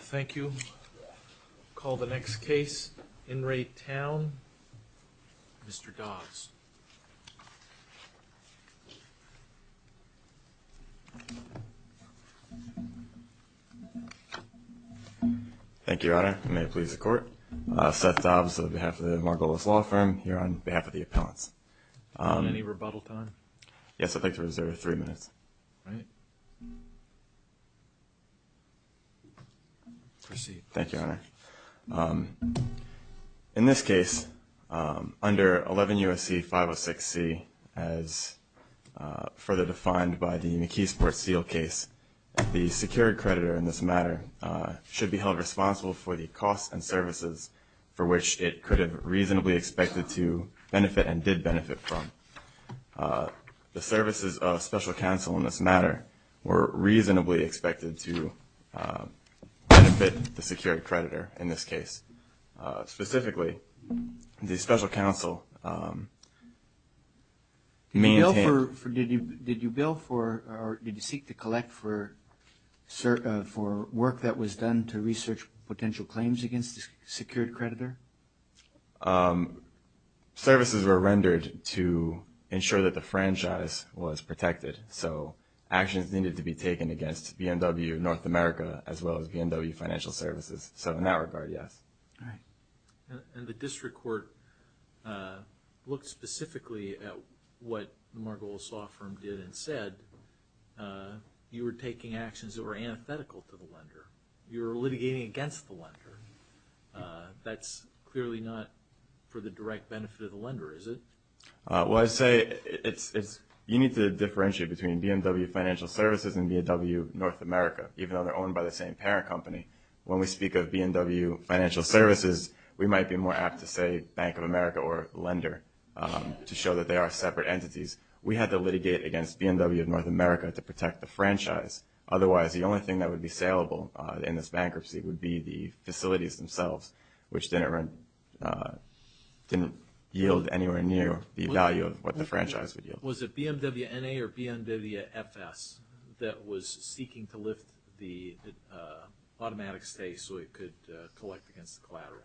Thank you. I'll call the next case. In Re Towne, Mr. Dobbs. Thank you, Your Honor. May it please the court. Seth Dobbs on behalf of the Margolis Law Firm, here on behalf of the appellants. Any rebuttal time? Yes, I'd like to reserve three minutes. All right. Proceed. Thank you, Your Honor. In this case, under 11 U.S.C. 506C, as further defined by the McKeesport-Steele case, the secured creditor in this matter should be held responsible for the costs and services for which it could have reasonably expected to benefit and did benefit from. The services of special counsel in this matter were reasonably expected to benefit the secured creditor in this case. Specifically, the special counsel maintained... Did you bill for or did you seek to collect for work that was done to research potential claims against the secured creditor? Services were rendered to ensure that the franchise was protected. So actions needed to be taken against BMW North America as well as BMW Financial Services. So in that regard, yes. All right. And the district court looked specifically at what the Margolis Law Firm did and said. You were taking actions that were antithetical to the lender. You were litigating against the lender. That's clearly not for the direct benefit of the lender, is it? Well, I'd say you need to differentiate between BMW Financial Services and BMW North America, even though they're owned by the same parent company. When we speak of BMW Financial Services, we might be more apt to say Bank of America or lender to show that they are separate entities. We had to litigate against BMW North America to protect the franchise. Otherwise, the only thing that would be saleable in this bankruptcy would be the facilities themselves, which didn't yield anywhere near the value of what the franchise would yield. Was it BMW NA or BMW FS that was seeking to lift the automatic stay so it could collect against the collateral?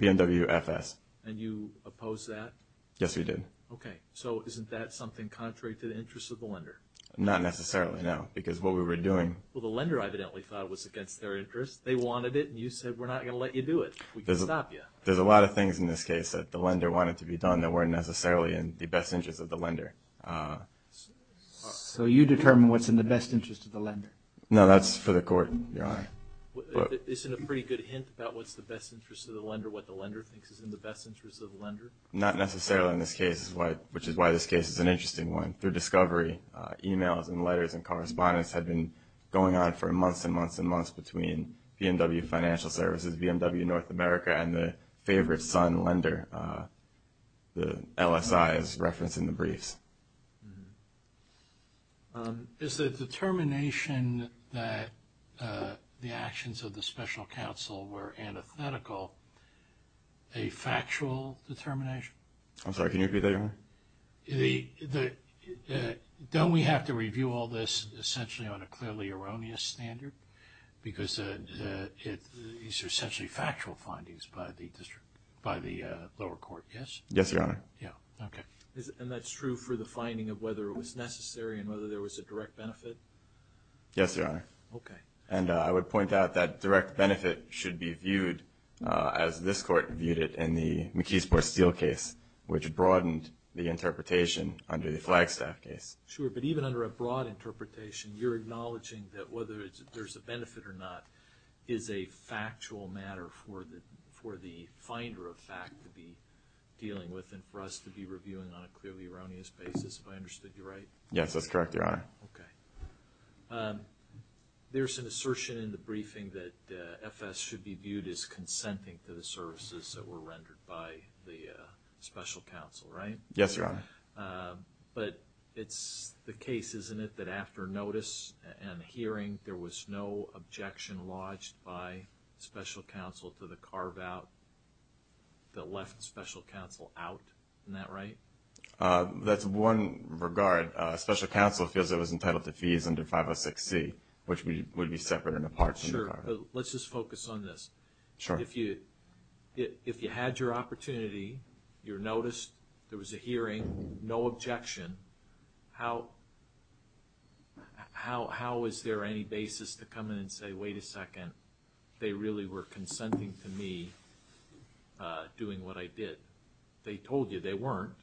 BMW FS. And you opposed that? Yes, we did. Okay. So isn't that something contrary to the interests of the lender? Not necessarily, no, because what we were doing... Well, the lender evidently thought it was against their interests. They wanted it, and you said, we're not going to let you do it. We can stop you. There's a lot of things in this case that the lender wanted to be done that weren't necessarily in the best interests of the lender. So you determine what's in the best interest of the lender? No, that's for the court, Your Honor. Isn't a pretty good hint about what's the best interest of the lender what the lender thinks is in the best interest of the lender? Not necessarily in this case, which is why this case is an interesting one. Through discovery, emails and letters and correspondence had been going on for months and months and months between BMW Financial Services, BMW North America, and the favorite son lender, the LSI, as referenced in the briefs. Is the determination that the actions of the special counsel were antithetical a factual determination? I'm sorry, can you repeat that, Your Honor? Don't we have to review all this essentially on a clearly erroneous standard? Because these are essentially factual findings by the lower court, yes? Yes, Your Honor. Yeah, okay. And that's true for the finding of whether it was necessary and whether there was a direct benefit? Yes, Your Honor. Okay. And I would point out that direct benefit should be viewed as this court viewed it in the McKeesport Steel case, which broadened the interpretation under the Flagstaff case. Sure, but even under a broad interpretation, you're acknowledging that whether there's a benefit or not is a factual matter for the finder of fact to be dealing with and for us to be reviewing on a clearly erroneous basis, if I understood you right? Yes, that's correct, Your Honor. Okay. There's an assertion in the briefing that FS should be viewed as consenting to the services that were rendered by the special counsel, right? Yes, Your Honor. But it's the case, isn't it, that after notice and hearing, there was no objection lodged by special counsel to the carve-out that left special counsel out? Isn't that right? That's one regard. But special counsel feels it was entitled to fees under 506C, which would be separate and apart from the carve-out. Sure. Let's just focus on this. Sure. If you had your opportunity, you were noticed, there was a hearing, no objection, how is there any basis to come in and say, wait a second, they really were consenting to me doing what I did? They told you they weren't.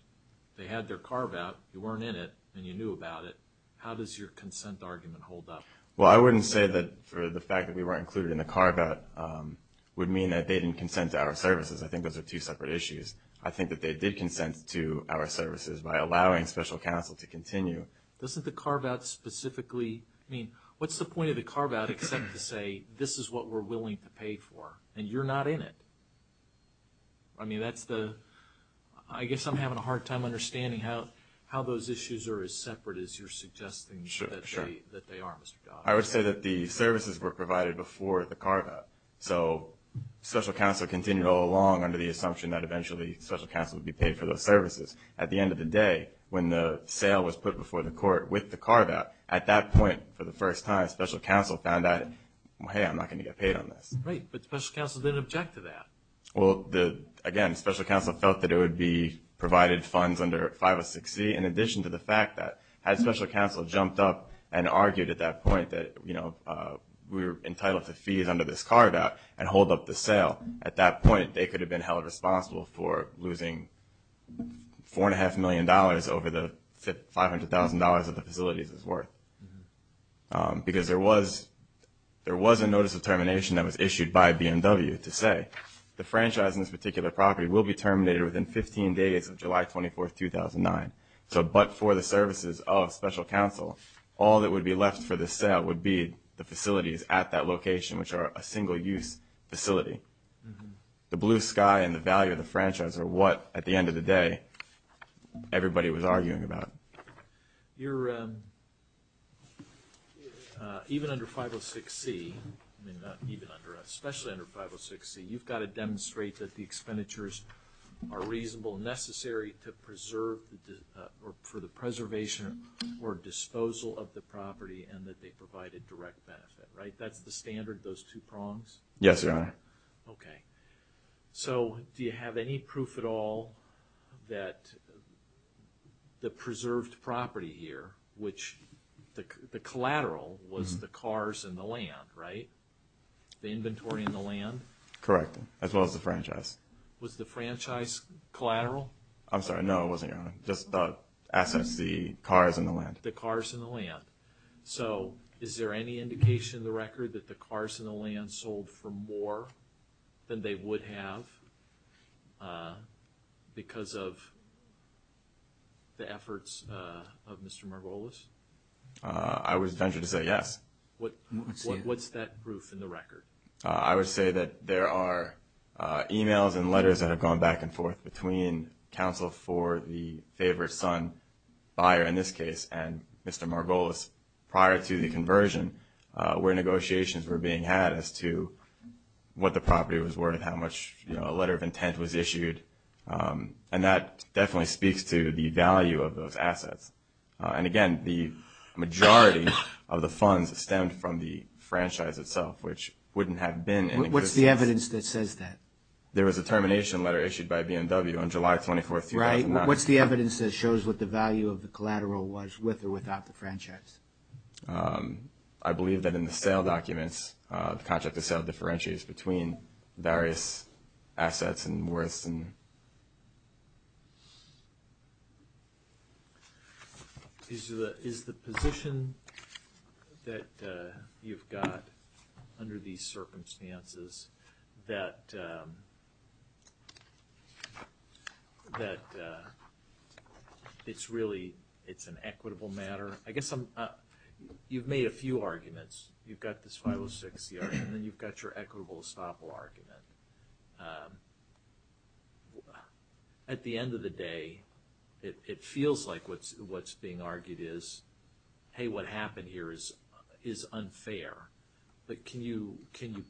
They had their carve-out, you weren't in it, and you knew about it. How does your consent argument hold up? Well, I wouldn't say that for the fact that we weren't included in the carve-out would mean that they didn't consent to our services. I think those are two separate issues. I think that they did consent to our services by allowing special counsel to continue. Doesn't the carve-out specifically, I mean, what's the point of the carve-out except to say this is what we're willing to pay for and you're not in it? I mean, that's the, I guess I'm having a hard time understanding how those issues are as separate as you're suggesting that they are, Mr. Dodd. I would say that the services were provided before the carve-out, so special counsel continued all along under the assumption that eventually special counsel would be paid for those services. At the end of the day, when the sale was put before the court with the carve-out, at that point, for the first time, special counsel found out, hey, I'm not going to get paid on this. Right, but special counsel didn't object to that. Well, again, special counsel felt that it would be provided funds under 506C, in addition to the fact that had special counsel jumped up and argued at that point that, you know, we were entitled to fees under this carve-out and hold up the sale, at that point, they could have been held responsible for losing $4.5 million over the $500,000 that the facilities was worth. Because there was a notice of termination that was issued by BMW to say the franchise in this particular property will be terminated within 15 days of July 24th, 2009. So but for the services of special counsel, all that would be left for the sale would be the facilities at that location, which are a single-use facility. The blue sky and the value of the franchise are what, at the end of the day, everybody was arguing about. Your, even under 506C, I mean, not even under, especially under 506C, you've got to demonstrate that the expenditures are reasonable and necessary to preserve, or for the preservation or disposal of the property and that they provide a direct benefit, right? That's the standard, those two prongs? Yes, Your Honor. Okay. So do you have any proof at all that the preserved property here, which the collateral was the cars and the land, right? The inventory and the land? Correct, as well as the franchise. Was the franchise collateral? I'm sorry, no, it wasn't, Your Honor. Just the assets, the cars and the land. The cars and the land. So is there any indication in the record that the cars and the land sold for more than they would have because of the efforts of Mr. Margolis? I would venture to say yes. What's that proof in the record? I would say that there are emails and letters that have gone back and forth between counsel for the favored son buyer in this case and Mr. Margolis prior to the conversion where negotiations were being had as to what the property was worth, how much a letter of intent was issued, and that definitely speaks to the value of those assets. And, again, the majority of the funds stemmed from the franchise itself, which wouldn't have been in existence. What's the evidence that says that? There was a termination letter issued by BMW on July 24, 2009. Right. What's the evidence that shows what the value of the collateral was with or without the franchise? I believe that in the sale documents, the contract of sale differentiates between various assets and worths. Is the position that you've got under these circumstances that it's really an equitable matter? I guess you've made a few arguments. You've got this 506 CR and then you've got your equitable estoppel argument. At the end of the day, it feels like what's being argued is, hey, what happened here is unfair. But can you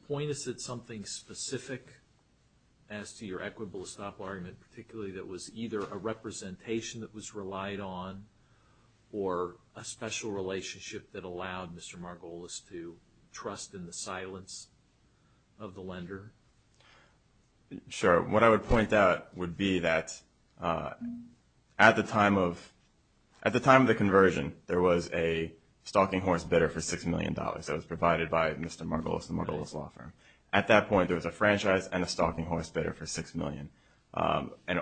point us at something specific as to your equitable estoppel argument, particularly that was either a representation that was relied on or a special relationship that allowed Mr. Margolis to trust in the silence of the lender? Sure. What I would point out would be that at the time of the conversion, there was a stalking horse bidder for $6 million. That was provided by Mr. Margolis, the Margolis law firm. At that point, there was a franchise and a stalking horse bidder for $6 million. And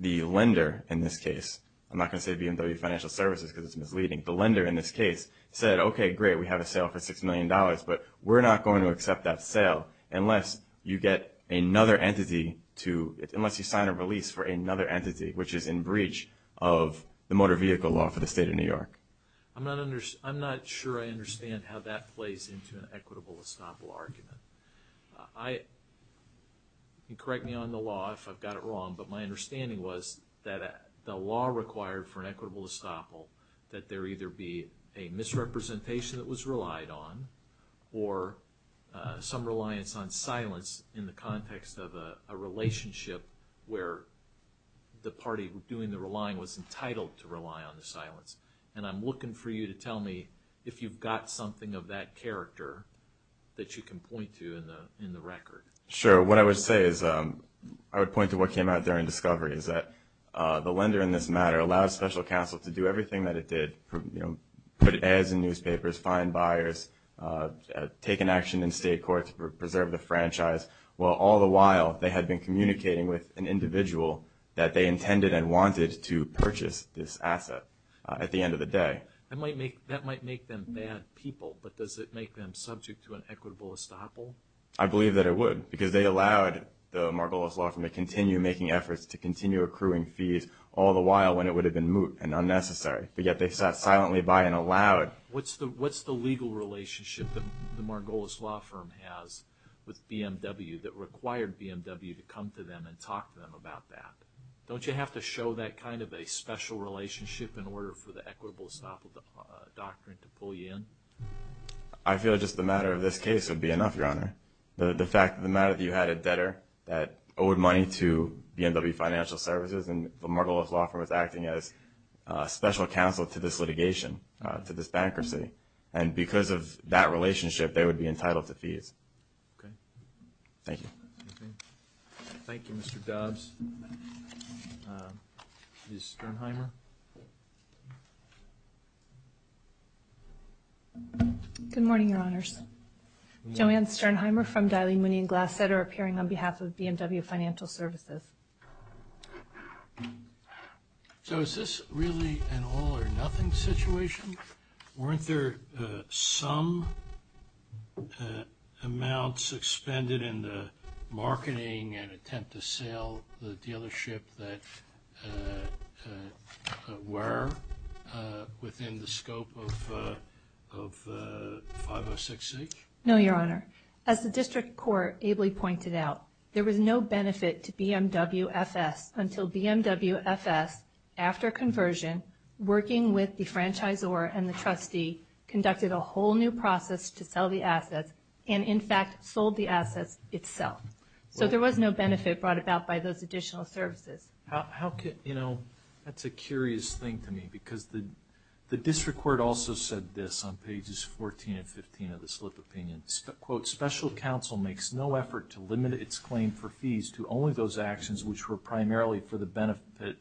the lender, in this case, I'm not going to say BMW Financial Services because it's misleading. The lender, in this case, said, okay, great, we have a sale for $6 million, but we're not going to accept that sale unless you sign a release for another entity, which is in breach of the motor vehicle law for the state of New York. I'm not sure I understand how that plays into an equitable estoppel argument. You can correct me on the law if I've got it wrong, but my understanding was that the law required for an equitable estoppel that there either be a misrepresentation that was relied on or some reliance on silence in the context of a relationship where the party doing the relying was entitled to rely on the silence. And I'm looking for you to tell me if you've got something of that character that you can point to in the record. Sure. What I would say is I would point to what came out during discovery is that the lender in this matter allowed special counsel to do everything that it did, put ads in newspapers, find buyers, take an action in state court to preserve the franchise, while all the while they had been communicating with an individual that they intended and wanted to purchase this asset at the end of the day. That might make them bad people, but does it make them subject to an equitable estoppel? I believe that it would because they allowed the Margolis Law Firm to continue making efforts to continue accruing fees all the while when it would have been moot and unnecessary. But yet they sat silently by and allowed. What's the legal relationship that the Margolis Law Firm has with BMW that required BMW to come to them and talk to them about that? Don't you have to show that kind of a special relationship in order for the equitable estoppel doctrine to pull you in? I feel just the matter of this case would be enough, Your Honor. The fact that the matter that you had a debtor that owed money to BMW Financial Services and the Margolis Law Firm was acting as special counsel to this litigation, to this bankruptcy, and because of that relationship they would be entitled to fees. Okay. Thank you. Thank you, Mr. Dobbs. Ms. Sternheimer? Good morning, Your Honors. Joanne Sternheimer from Daly, Mooney & Glassett are appearing on behalf of BMW Financial Services. So is this really an all-or-nothing situation? Weren't there some amounts expended in the marketing and attempt to sell the dealership that were within the scope of 506c? No, Your Honor. As the district court ably pointed out, there was no benefit to BMW FS until BMW FS, after conversion, working with the franchisor and the trustee, conducted a whole new process to sell the assets and, in fact, sold the assets itself. So there was no benefit brought about by those additional services. That's a curious thing to me because the district court also said this on pages 14 and 15 of the slip opinion. Special counsel makes no effort to limit its claim for fees to only those actions which were primarily for the benefit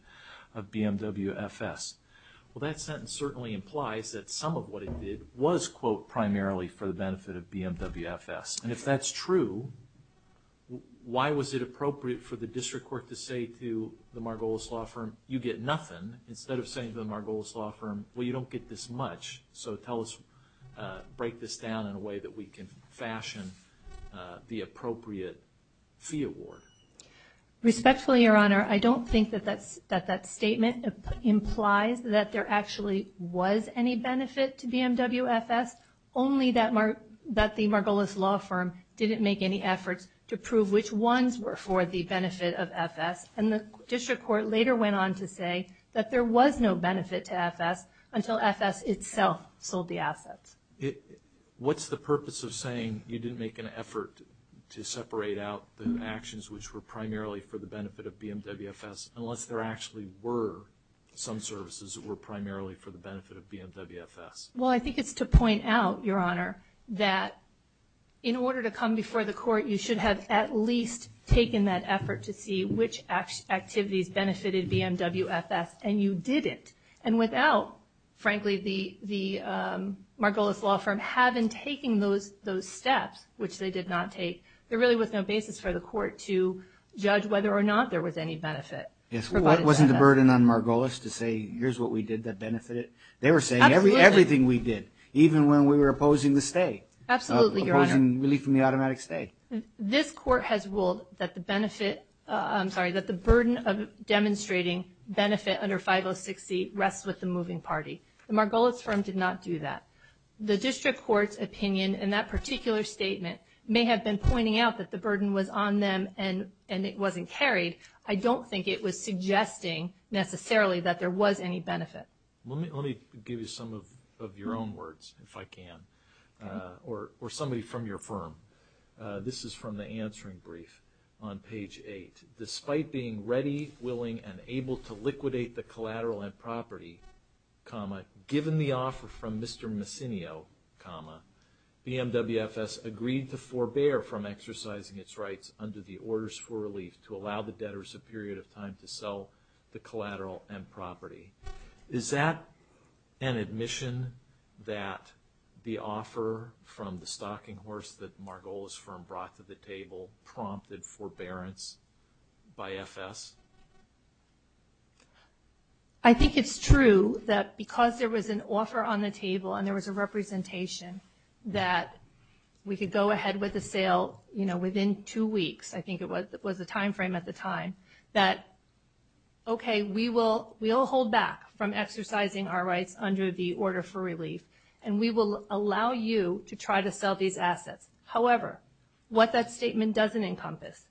of BMW FS. Well, that sentence certainly implies that some of what it did was, quote, primarily for the benefit of BMW FS. And if that's true, why was it appropriate for the district court to say to the Margolis Law Firm, you get nothing, instead of saying to the Margolis Law Firm, well, you don't get this much, so tell us, break this down in a way that we can fashion the appropriate fee award. Respectfully, Your Honor, I don't think that that statement implies that there actually was any benefit to BMW FS, only that the Margolis Law Firm didn't make any efforts to prove which ones were for the benefit of FS. And the district court later went on to say that there was no benefit to FS until FS itself sold the assets. What's the purpose of saying you didn't make an effort to separate out the actions which were primarily for the benefit of BMW FS unless there actually were some services that were primarily for the benefit of BMW FS? Well, I think it's to point out, Your Honor, that in order to come before the court, you should have at least taken that effort to see which activities benefited BMW FS, and you didn't. And without, frankly, the Margolis Law Firm having taken those steps, which they did not take, there really was no basis for the court to judge whether or not there was any benefit. Yes, well, wasn't the burden on Margolis to say, here's what we did that benefited? They were saying everything we did, even when we were opposing the stay, opposing relief from the automatic stay. This court has ruled that the burden of demonstrating benefit under 5060 rests with the moving party. The Margolis firm did not do that. The district court's opinion in that particular statement may have been pointing out that the burden was on them and it wasn't carried. I don't think it was suggesting, necessarily, that there was any benefit. Let me give you some of your own words, if I can, or somebody from your firm. This is from the answering brief on page 8. Despite being ready, willing, and able to liquidate the collateral and property, given the offer from Mr. Massinio, BMW FS agreed to forbear from exercising its rights under the orders for relief to allow the debtors a period of time to sell the collateral and property. Is that an admission that the offer from the stocking horse that Margolis firm brought to the table prompted forbearance by FS? I think it's true that because there was an offer on the table and there was a representation that we could go ahead with the sale within two weeks, I think it was the time frame at the time, that, okay, we will hold back from exercising our rights under the order for relief and we will allow you to try to sell these assets. However, what that statement doesn't encompass,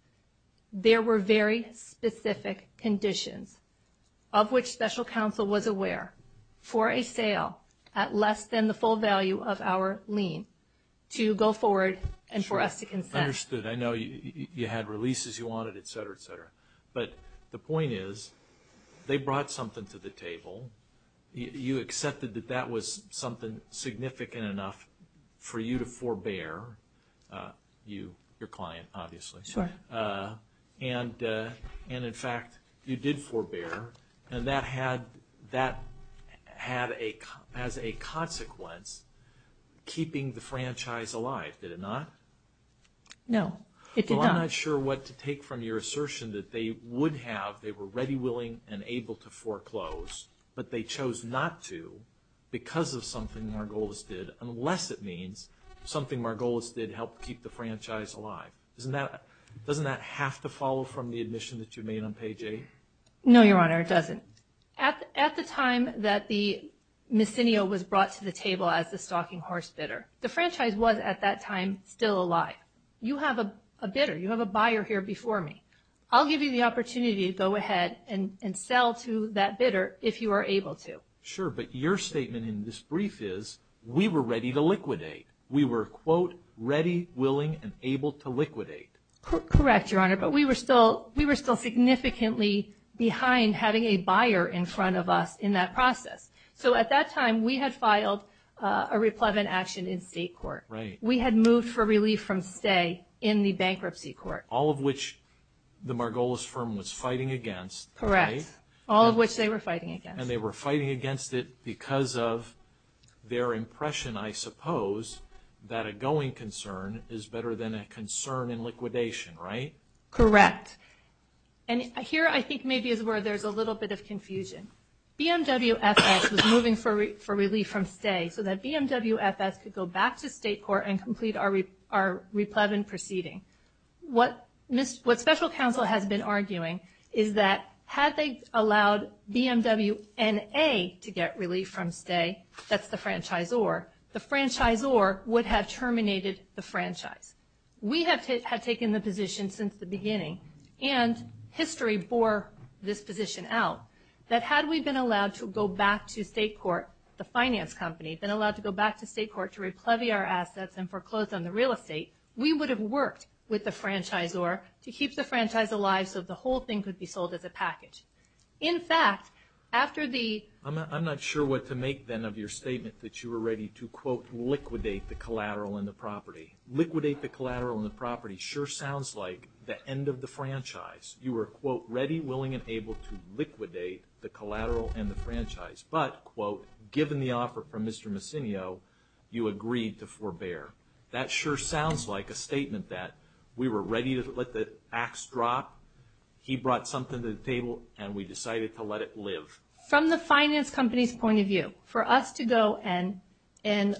there were very specific conditions of which special counsel was aware for a sale at less than the full value of our lien to go forward and for us to consent. Understood. I know you had releases you wanted, et cetera, et cetera. But the point is they brought something to the table. You accepted that that was something significant enough for you to forbear, you, your client, obviously. Sure. And in fact, you did forbear, and that had as a consequence keeping the franchise alive, did it not? No, it did not. I'm not sure what to take from your assertion that they would have, they were ready, willing, and able to foreclose, but they chose not to because of something Margolis did, unless it means something Margolis did helped keep the franchise alive. Doesn't that have to follow from the admission that you made on page 8? No, Your Honor, it doesn't. At the time that the Missinio was brought to the table as the stalking horse bidder, the franchise was at that time still alive. You have a bidder, you have a buyer here before me. I'll give you the opportunity to go ahead and sell to that bidder if you are able to. Sure, but your statement in this brief is we were ready to liquidate. We were, quote, ready, willing, and able to liquidate. Correct, Your Honor, but we were still significantly behind having a buyer in front of us in that process. So at that time, we had filed a replevant action in state court. Right. We had moved for relief from stay in the bankruptcy court. All of which the Margolis firm was fighting against, right? Correct, all of which they were fighting against. And they were fighting against it because of their impression, I suppose, that a going concern is better than a concern in liquidation, right? Correct, and here I think maybe is where there's a little bit of confusion. BMWFS was moving for relief from stay so that BMWFS could go back to state court and complete our replevant proceeding. What special counsel has been arguing is that had they allowed BMWNA to get relief from stay, that's the franchisor, the franchisor would have terminated the franchise. We had taken the position since the beginning, and history bore this position out, that had we been allowed to go back to state court, the finance company, been allowed to go back to state court to replevy our assets and foreclose on the real estate, we would have worked with the franchisor to keep the franchise alive so that the whole thing could be sold as a package. In fact, after the... I'm not sure what to make then of your statement that you were ready to, quote, liquidate the collateral and the property. You were, quote, ready, willing, and able to liquidate the collateral and the franchise, but, quote, given the offer from Mr. Massinio, you agreed to forbear. That sure sounds like a statement that we were ready to let the ax drop, he brought something to the table, and we decided to let it live. From the finance company's point of view, for us to go and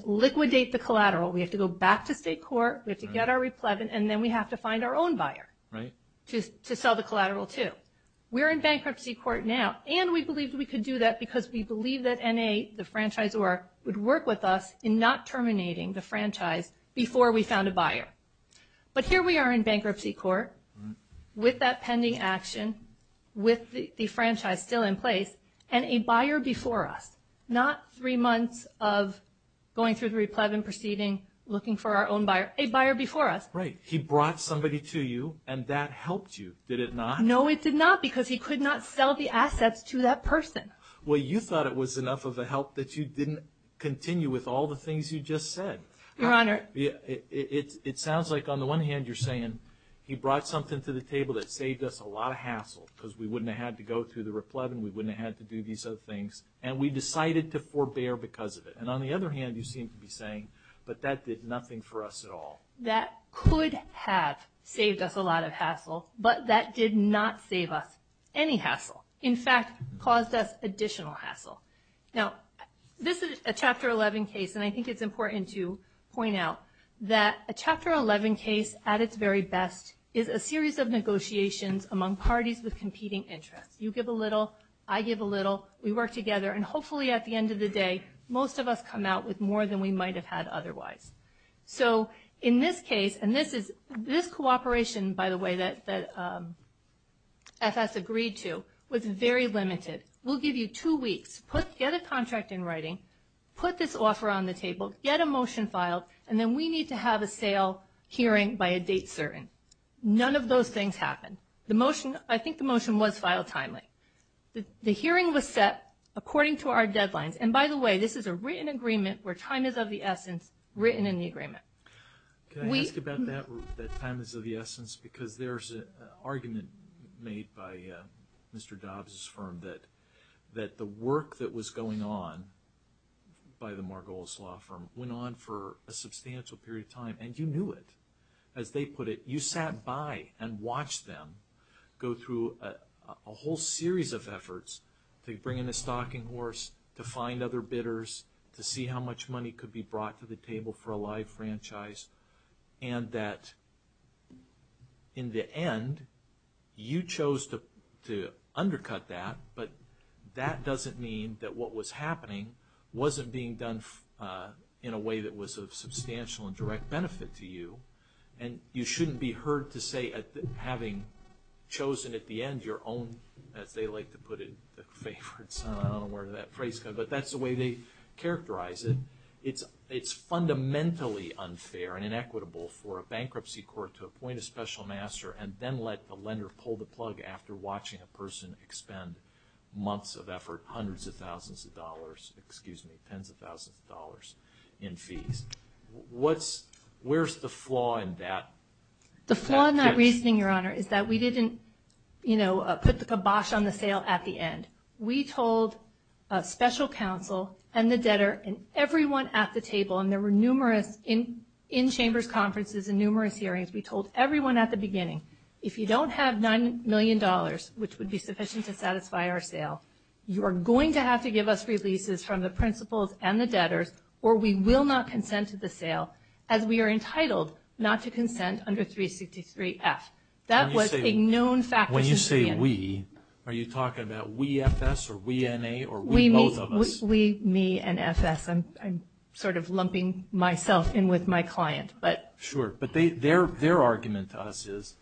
liquidate the collateral, we have to go back to state court, we have to get our replevant, and then we have to find our own buyer to sell the collateral to. We're in bankruptcy court now, and we believed we could do that because we believed that N.A., the franchisor, would work with us in not terminating the franchise before we found a buyer. But here we are in bankruptcy court with that pending action, with the franchise still in place, and a buyer before us. Not three months of going through the replevant proceeding, looking for our own buyer, a buyer before us. Right. He brought somebody to you, and that helped you, did it not? No, it did not, because he could not sell the assets to that person. Well, you thought it was enough of a help that you didn't continue with all the things you just said. Your Honor. It sounds like, on the one hand, you're saying, he brought something to the table that saved us a lot of hassle because we wouldn't have had to go through the replevant, we wouldn't have had to do these other things, and we decided to forbear because of it. And on the other hand, you seem to be saying, but that did nothing for us at all. That could have saved us a lot of hassle, but that did not save us any hassle. In fact, caused us additional hassle. Now, this is a Chapter 11 case, and I think it's important to point out that a Chapter 11 case, at its very best, is a series of negotiations among parties with competing interests. You give a little, I give a little, we work together, and hopefully at the end of the day, most of us come out with more than we might have had otherwise. So, in this case, and this cooperation, by the way, that FS agreed to, was very limited. We'll give you two weeks. Get a contract in writing. Put this offer on the table. Get a motion filed. And then we need to have a sale hearing by a date certain. None of those things happened. I think the motion was filed timely. The hearing was set according to our deadlines. And, by the way, this is a written agreement where time is of the essence, written in the agreement. Can I ask about that time is of the essence? Because there's an argument made by Mr. Dobbs' firm that the work that was going on by the Margolis Law Firm went on for a substantial period of time, and you knew it. As they put it, you sat by and watched them go through a whole series of efforts to bring in a stocking horse, to find other bidders, to see how much money could be brought to the table for a live franchise. And that, in the end, you chose to undercut that, but that doesn't mean that what was happening wasn't being done in a way that was of substantial and direct benefit to you. And you shouldn't be heard to say, having chosen at the end your own, as they like to put it, favorites. I don't know where that phrase comes from, but that's the way they characterize it. It's fundamentally unfair and inequitable for a bankruptcy court to appoint a special master and then let the lender pull the plug after watching a person expend months of effort, hundreds of thousands of dollars, excuse me, tens of thousands of dollars in fees. Where's the flaw in that? The flaw in that reasoning, Your Honor, is that we didn't, you know, put the kibosh on the sale at the end. We told special counsel and the debtor and everyone at the table, and there were numerous in-chambers conferences and numerous hearings, we told everyone at the beginning, if you don't have $9 million, which would be sufficient to satisfy our sale, you are going to have to give us releases from the principals and the debtors or we will not consent to the sale as we are entitled not to consent under 363F. That was a known fact. When you say we, are you talking about we FS or we NA or we both of us? We, me, and FS. I'm sort of lumping myself in with my client. Sure, but their argument to us is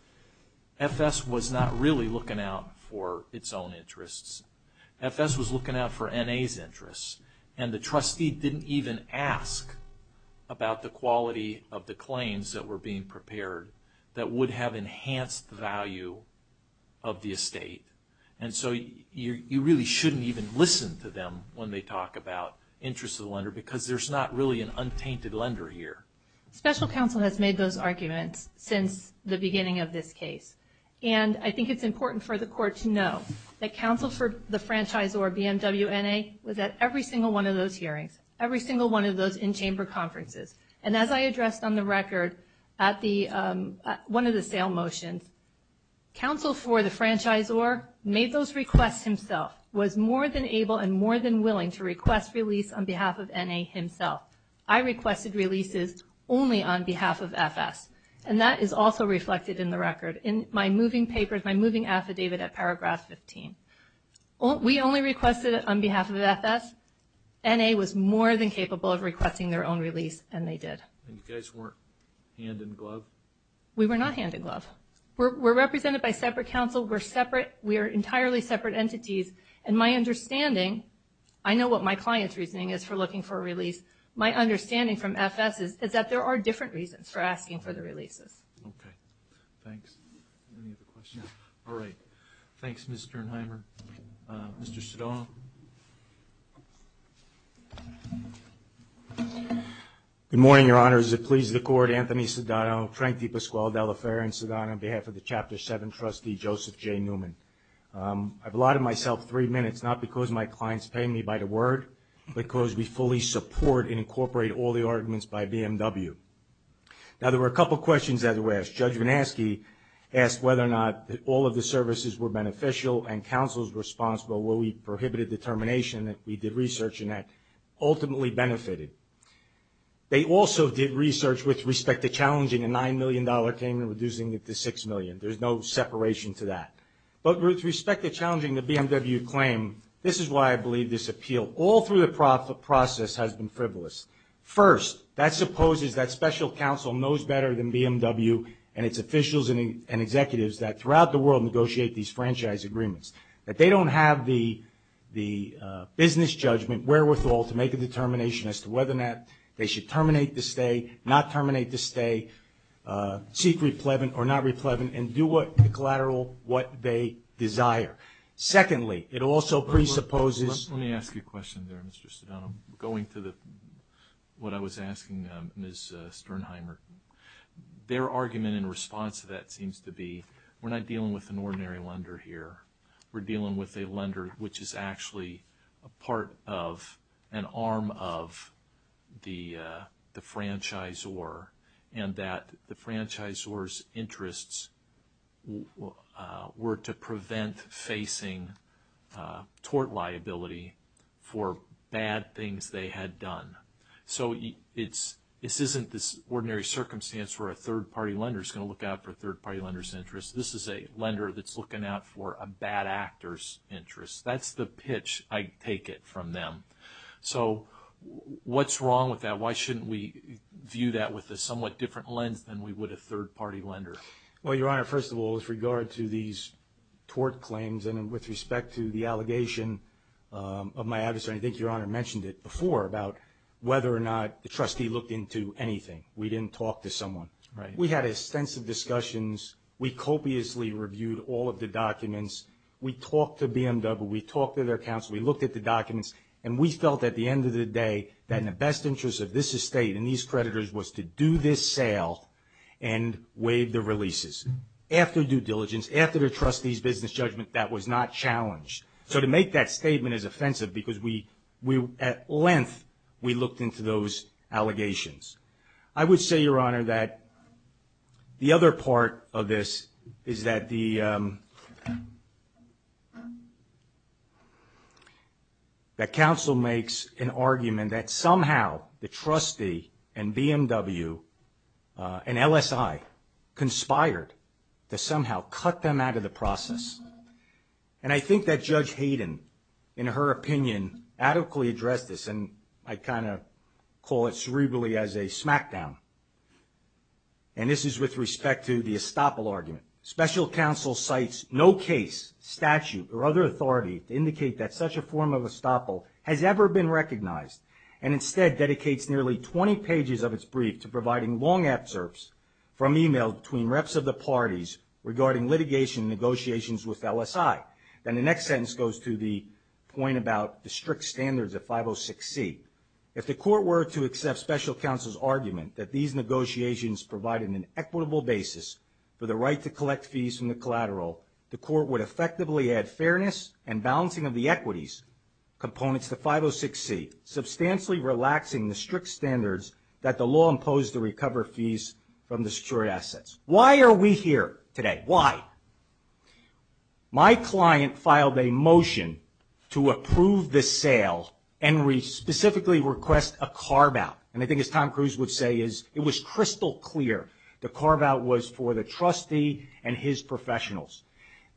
FS was not really looking out for its own interests. FS was looking out for NA's interests, and the trustee didn't even ask about the quality of the claims that were being prepared that would have enhanced the value of the estate. And so you really shouldn't even listen to them when they talk about interests of the lender because there's not really an untainted lender here. Special counsel has made those arguments since the beginning of this case, and I think it's important for the court to know that counsel for the franchise or BMW NA was at every single one of those hearings, every single one of those in-chamber conferences. And as I addressed on the record at one of the sale motions, counsel for the franchise or made those requests himself, was more than able and more than willing to request release on behalf of NA himself. I requested releases only on behalf of FS, and that is also reflected in the record in my moving papers, my moving affidavit at paragraph 15. We only requested it on behalf of FS. NA was more than capable of requesting their own release, and they did. And you guys weren't hand in glove? We were not hand in glove. We're represented by separate counsel. We're separate. We are entirely separate entities, and my understanding, I know what my client's reasoning is for looking for a release. My understanding from FS is that there are different reasons for asking for the releases. Okay. Thanks. Any other questions? No. Okay. Thanks, Ms. Sternheimer. Mr. Sedano. Good morning, Your Honor. As it pleases the Court, Anthony Sedano, Tranktee Pasquale De La Ferra, and Sedano on behalf of the Chapter 7 trustee, Joseph J. Newman. I've allotted myself three minutes, not because my client's paying me by the word, but because we fully support and incorporate all the arguments by BMW. Now, there were a couple questions that were asked. Judge Manaske asked whether or not all of the services were beneficial and counsels were responsible. Well, we prohibited the termination. We did research, and that ultimately benefited. They also did research with respect to challenging a $9 million claim and reducing it to $6 million. There's no separation to that. But with respect to challenging the BMW claim, this is why I believe this appeal, all through the process, has been frivolous. First, that supposes that special counsel knows better than BMW and its officials and executives that throughout the world negotiate these franchise agreements, that they don't have the business judgment, wherewithal, to make a determination as to whether or not they should terminate the stay, not terminate the stay, seek replevant or not replevant, and do what the collateral, what they desire. Secondly, it also presupposes. Let me ask you a question there, Mr. Sedano. Going to what I was asking Ms. Sternheimer, their argument in response to that seems to be, we're not dealing with an ordinary lender here. We're dealing with a lender which is actually a part of an arm of the franchisor and that the franchisor's interests were to prevent facing tort liability for bad things they had done. So this isn't this ordinary circumstance where a third-party lender is going to look out for a third-party lender's interests. This is a lender that's looking out for a bad actor's interests. That's the pitch I take it from them. So what's wrong with that? Why shouldn't we view that with a somewhat different lens than we would a third-party lender? Well, Your Honor, first of all, with regard to these tort claims and with respect to the allegation of my adversary, I think Your Honor mentioned it before about whether or not the trustee looked into anything. We didn't talk to someone. We had extensive discussions. We copiously reviewed all of the documents. We talked to BMW. We talked to their counsel. We looked at the documents. And we felt at the end of the day that in the best interest of this estate and these creditors was to do this sale and waive the releases. After due diligence, after the trustee's business judgment, that was not challenged. So to make that statement is offensive because at length, we looked into those allegations. I would say, Your Honor, that the other part of this is that the counsel makes an argument that somehow the trustee and BMW and LSI conspired to somehow cut them out of the process. And I think that Judge Hayden, in her opinion, adequately addressed this. And I kind of call it cerebrally as a smackdown. And this is with respect to the estoppel argument. Special counsel cites no case, statute, or other authority to indicate that such a form of estoppel has ever been recognized and instead dedicates nearly 20 pages of its brief to providing long absurds from email between reps of the parties regarding litigation and negotiations with LSI. Then the next sentence goes to the point about the strict standards of 506C. If the court were to accept special counsel's argument that these negotiations provided an equitable basis for the right to collect fees from the collateral, the court would effectively add fairness and balancing of the equities components to 506C, substantially relaxing the strict standards that the law imposed to recover fees from the secured assets. Why are we here today? Why? My client filed a motion to approve this sale and specifically request a carve-out. And I think, as Tom Cruise would say, it was crystal clear the carve-out was for the trustee and his professionals.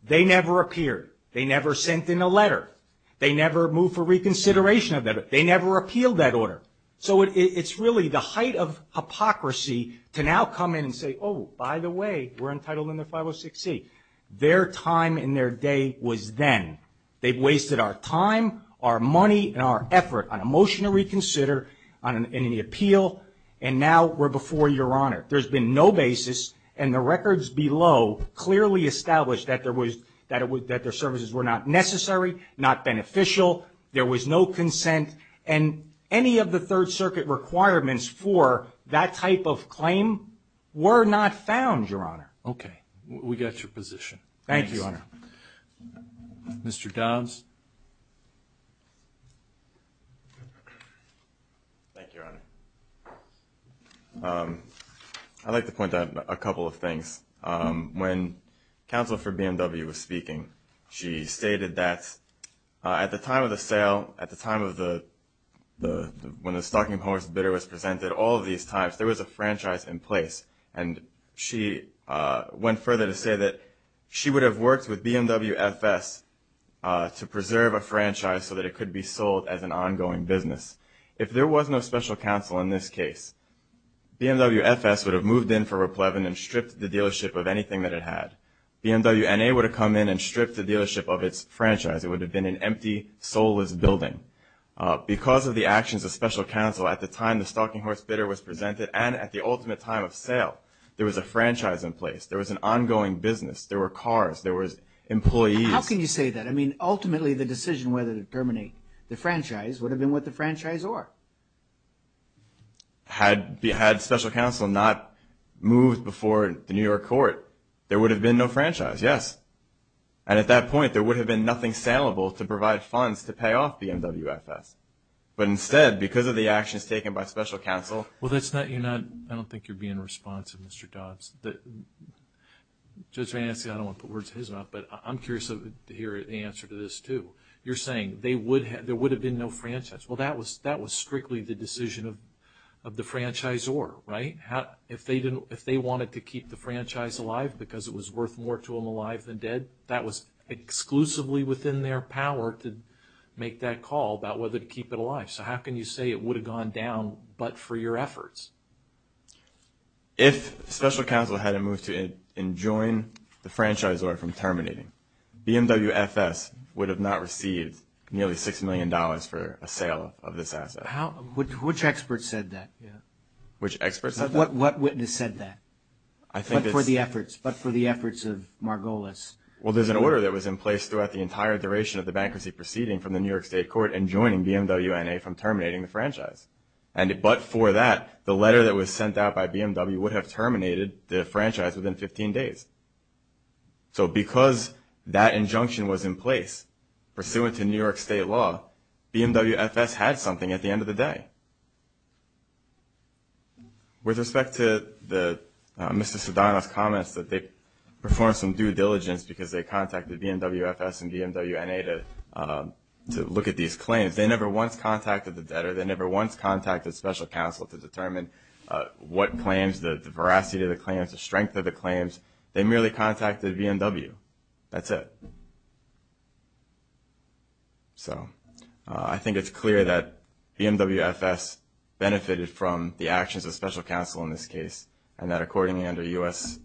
They never appeared. They never sent in a letter. They never moved for reconsideration of that. They never appealed that order. So it's really the height of hypocrisy to now come in and say, oh, by the way, we're entitled under 506C. Their time and their day was then. They've wasted our time, our money, and our effort on a motion to reconsider and an appeal, and now we're before Your Honor. There's been no basis, and the records below clearly establish that their services were not necessary, not beneficial, there was no consent, and any of the Third Circuit requirements for that type of claim were not found, Your Honor. Okay. We got your position. Thank you, Your Honor. Mr. Dobbs. Thank you, Your Honor. I'd like to point out a couple of things. When counsel for BMW was speaking, she stated that at the time of the sale, at the time when the Stocking of Horses bidder was presented, all of these times there was a franchise in place. And she went further to say that she would have worked with BMW FS to present and preserve a franchise so that it could be sold as an ongoing business. If there was no special counsel in this case, BMW FS would have moved in for a pleb and stripped the dealership of anything that it had. BMW NA would have come in and stripped the dealership of its franchise. It would have been an empty, soulless building. Because of the actions of special counsel at the time the Stocking of Horses bidder was presented and at the ultimate time of sale, there was a franchise in place, there was an ongoing business, there were cars, there were employees. How can you say that? I mean, ultimately the decision whether to terminate the franchise would have been with the franchisor. Had special counsel not moved before the New York court, there would have been no franchise, yes. And at that point, there would have been nothing saleable to provide funds to pay off BMW FS. But instead, because of the actions taken by special counsel... Well, that's not, you're not, I don't think you're being responsive, Mr. Dobbs. Judge Van Anstey, I don't want to put words in his mouth, but I'm curious to hear the answer to this too. You're saying there would have been no franchise. Well, that was strictly the decision of the franchisor, right? If they wanted to keep the franchise alive because it was worth more to them alive than dead, that was exclusively within their power to make that call about whether to keep it alive. So how can you say it would have gone down but for your efforts? If special counsel hadn't moved to enjoin the franchisor from terminating, BMW FS would have not received nearly $6 million for a sale of this asset. How, which expert said that? Which expert said that? What witness said that? I think it's... But for the efforts, but for the efforts of Margolis. Well, there's an order that was in place throughout the entire duration of the bankruptcy proceeding from the New York state court enjoining BMW NA from terminating the franchise. But for that, the letter that was sent out by BMW would have terminated the franchise within 15 days. So because that injunction was in place pursuant to New York state law, BMW FS had something at the end of the day. With respect to Mr. Sedano's comments that they performed some due diligence because they contacted BMW FS and BMW NA to look at these claims, they never once contacted the debtor. They never once contacted special counsel to determine what claims, the veracity of the claims, the strength of the claims. They merely contacted BMW. That's it. So I think it's clear that BMW FS benefited from the actions of special counsel in this case and that accordingly under USC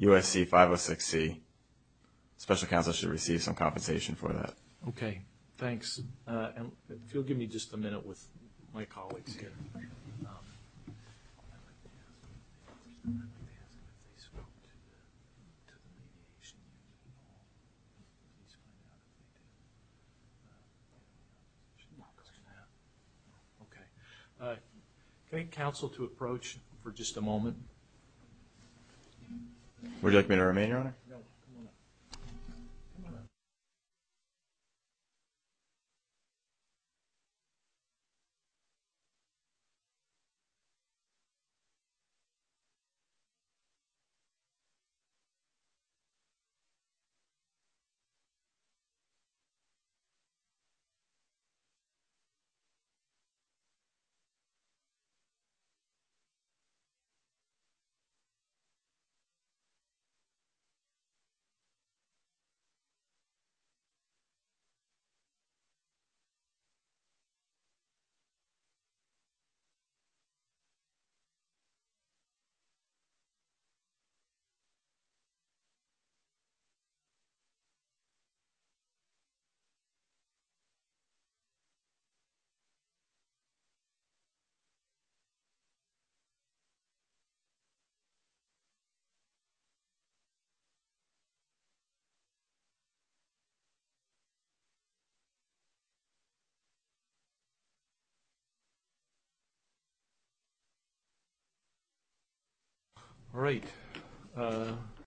506C, special counsel should receive some compensation for that. Okay. Thanks. If you'll give me just a minute with my colleagues here. Okay. Can I get counsel to approach for just a moment? Okay. Thank you. All right.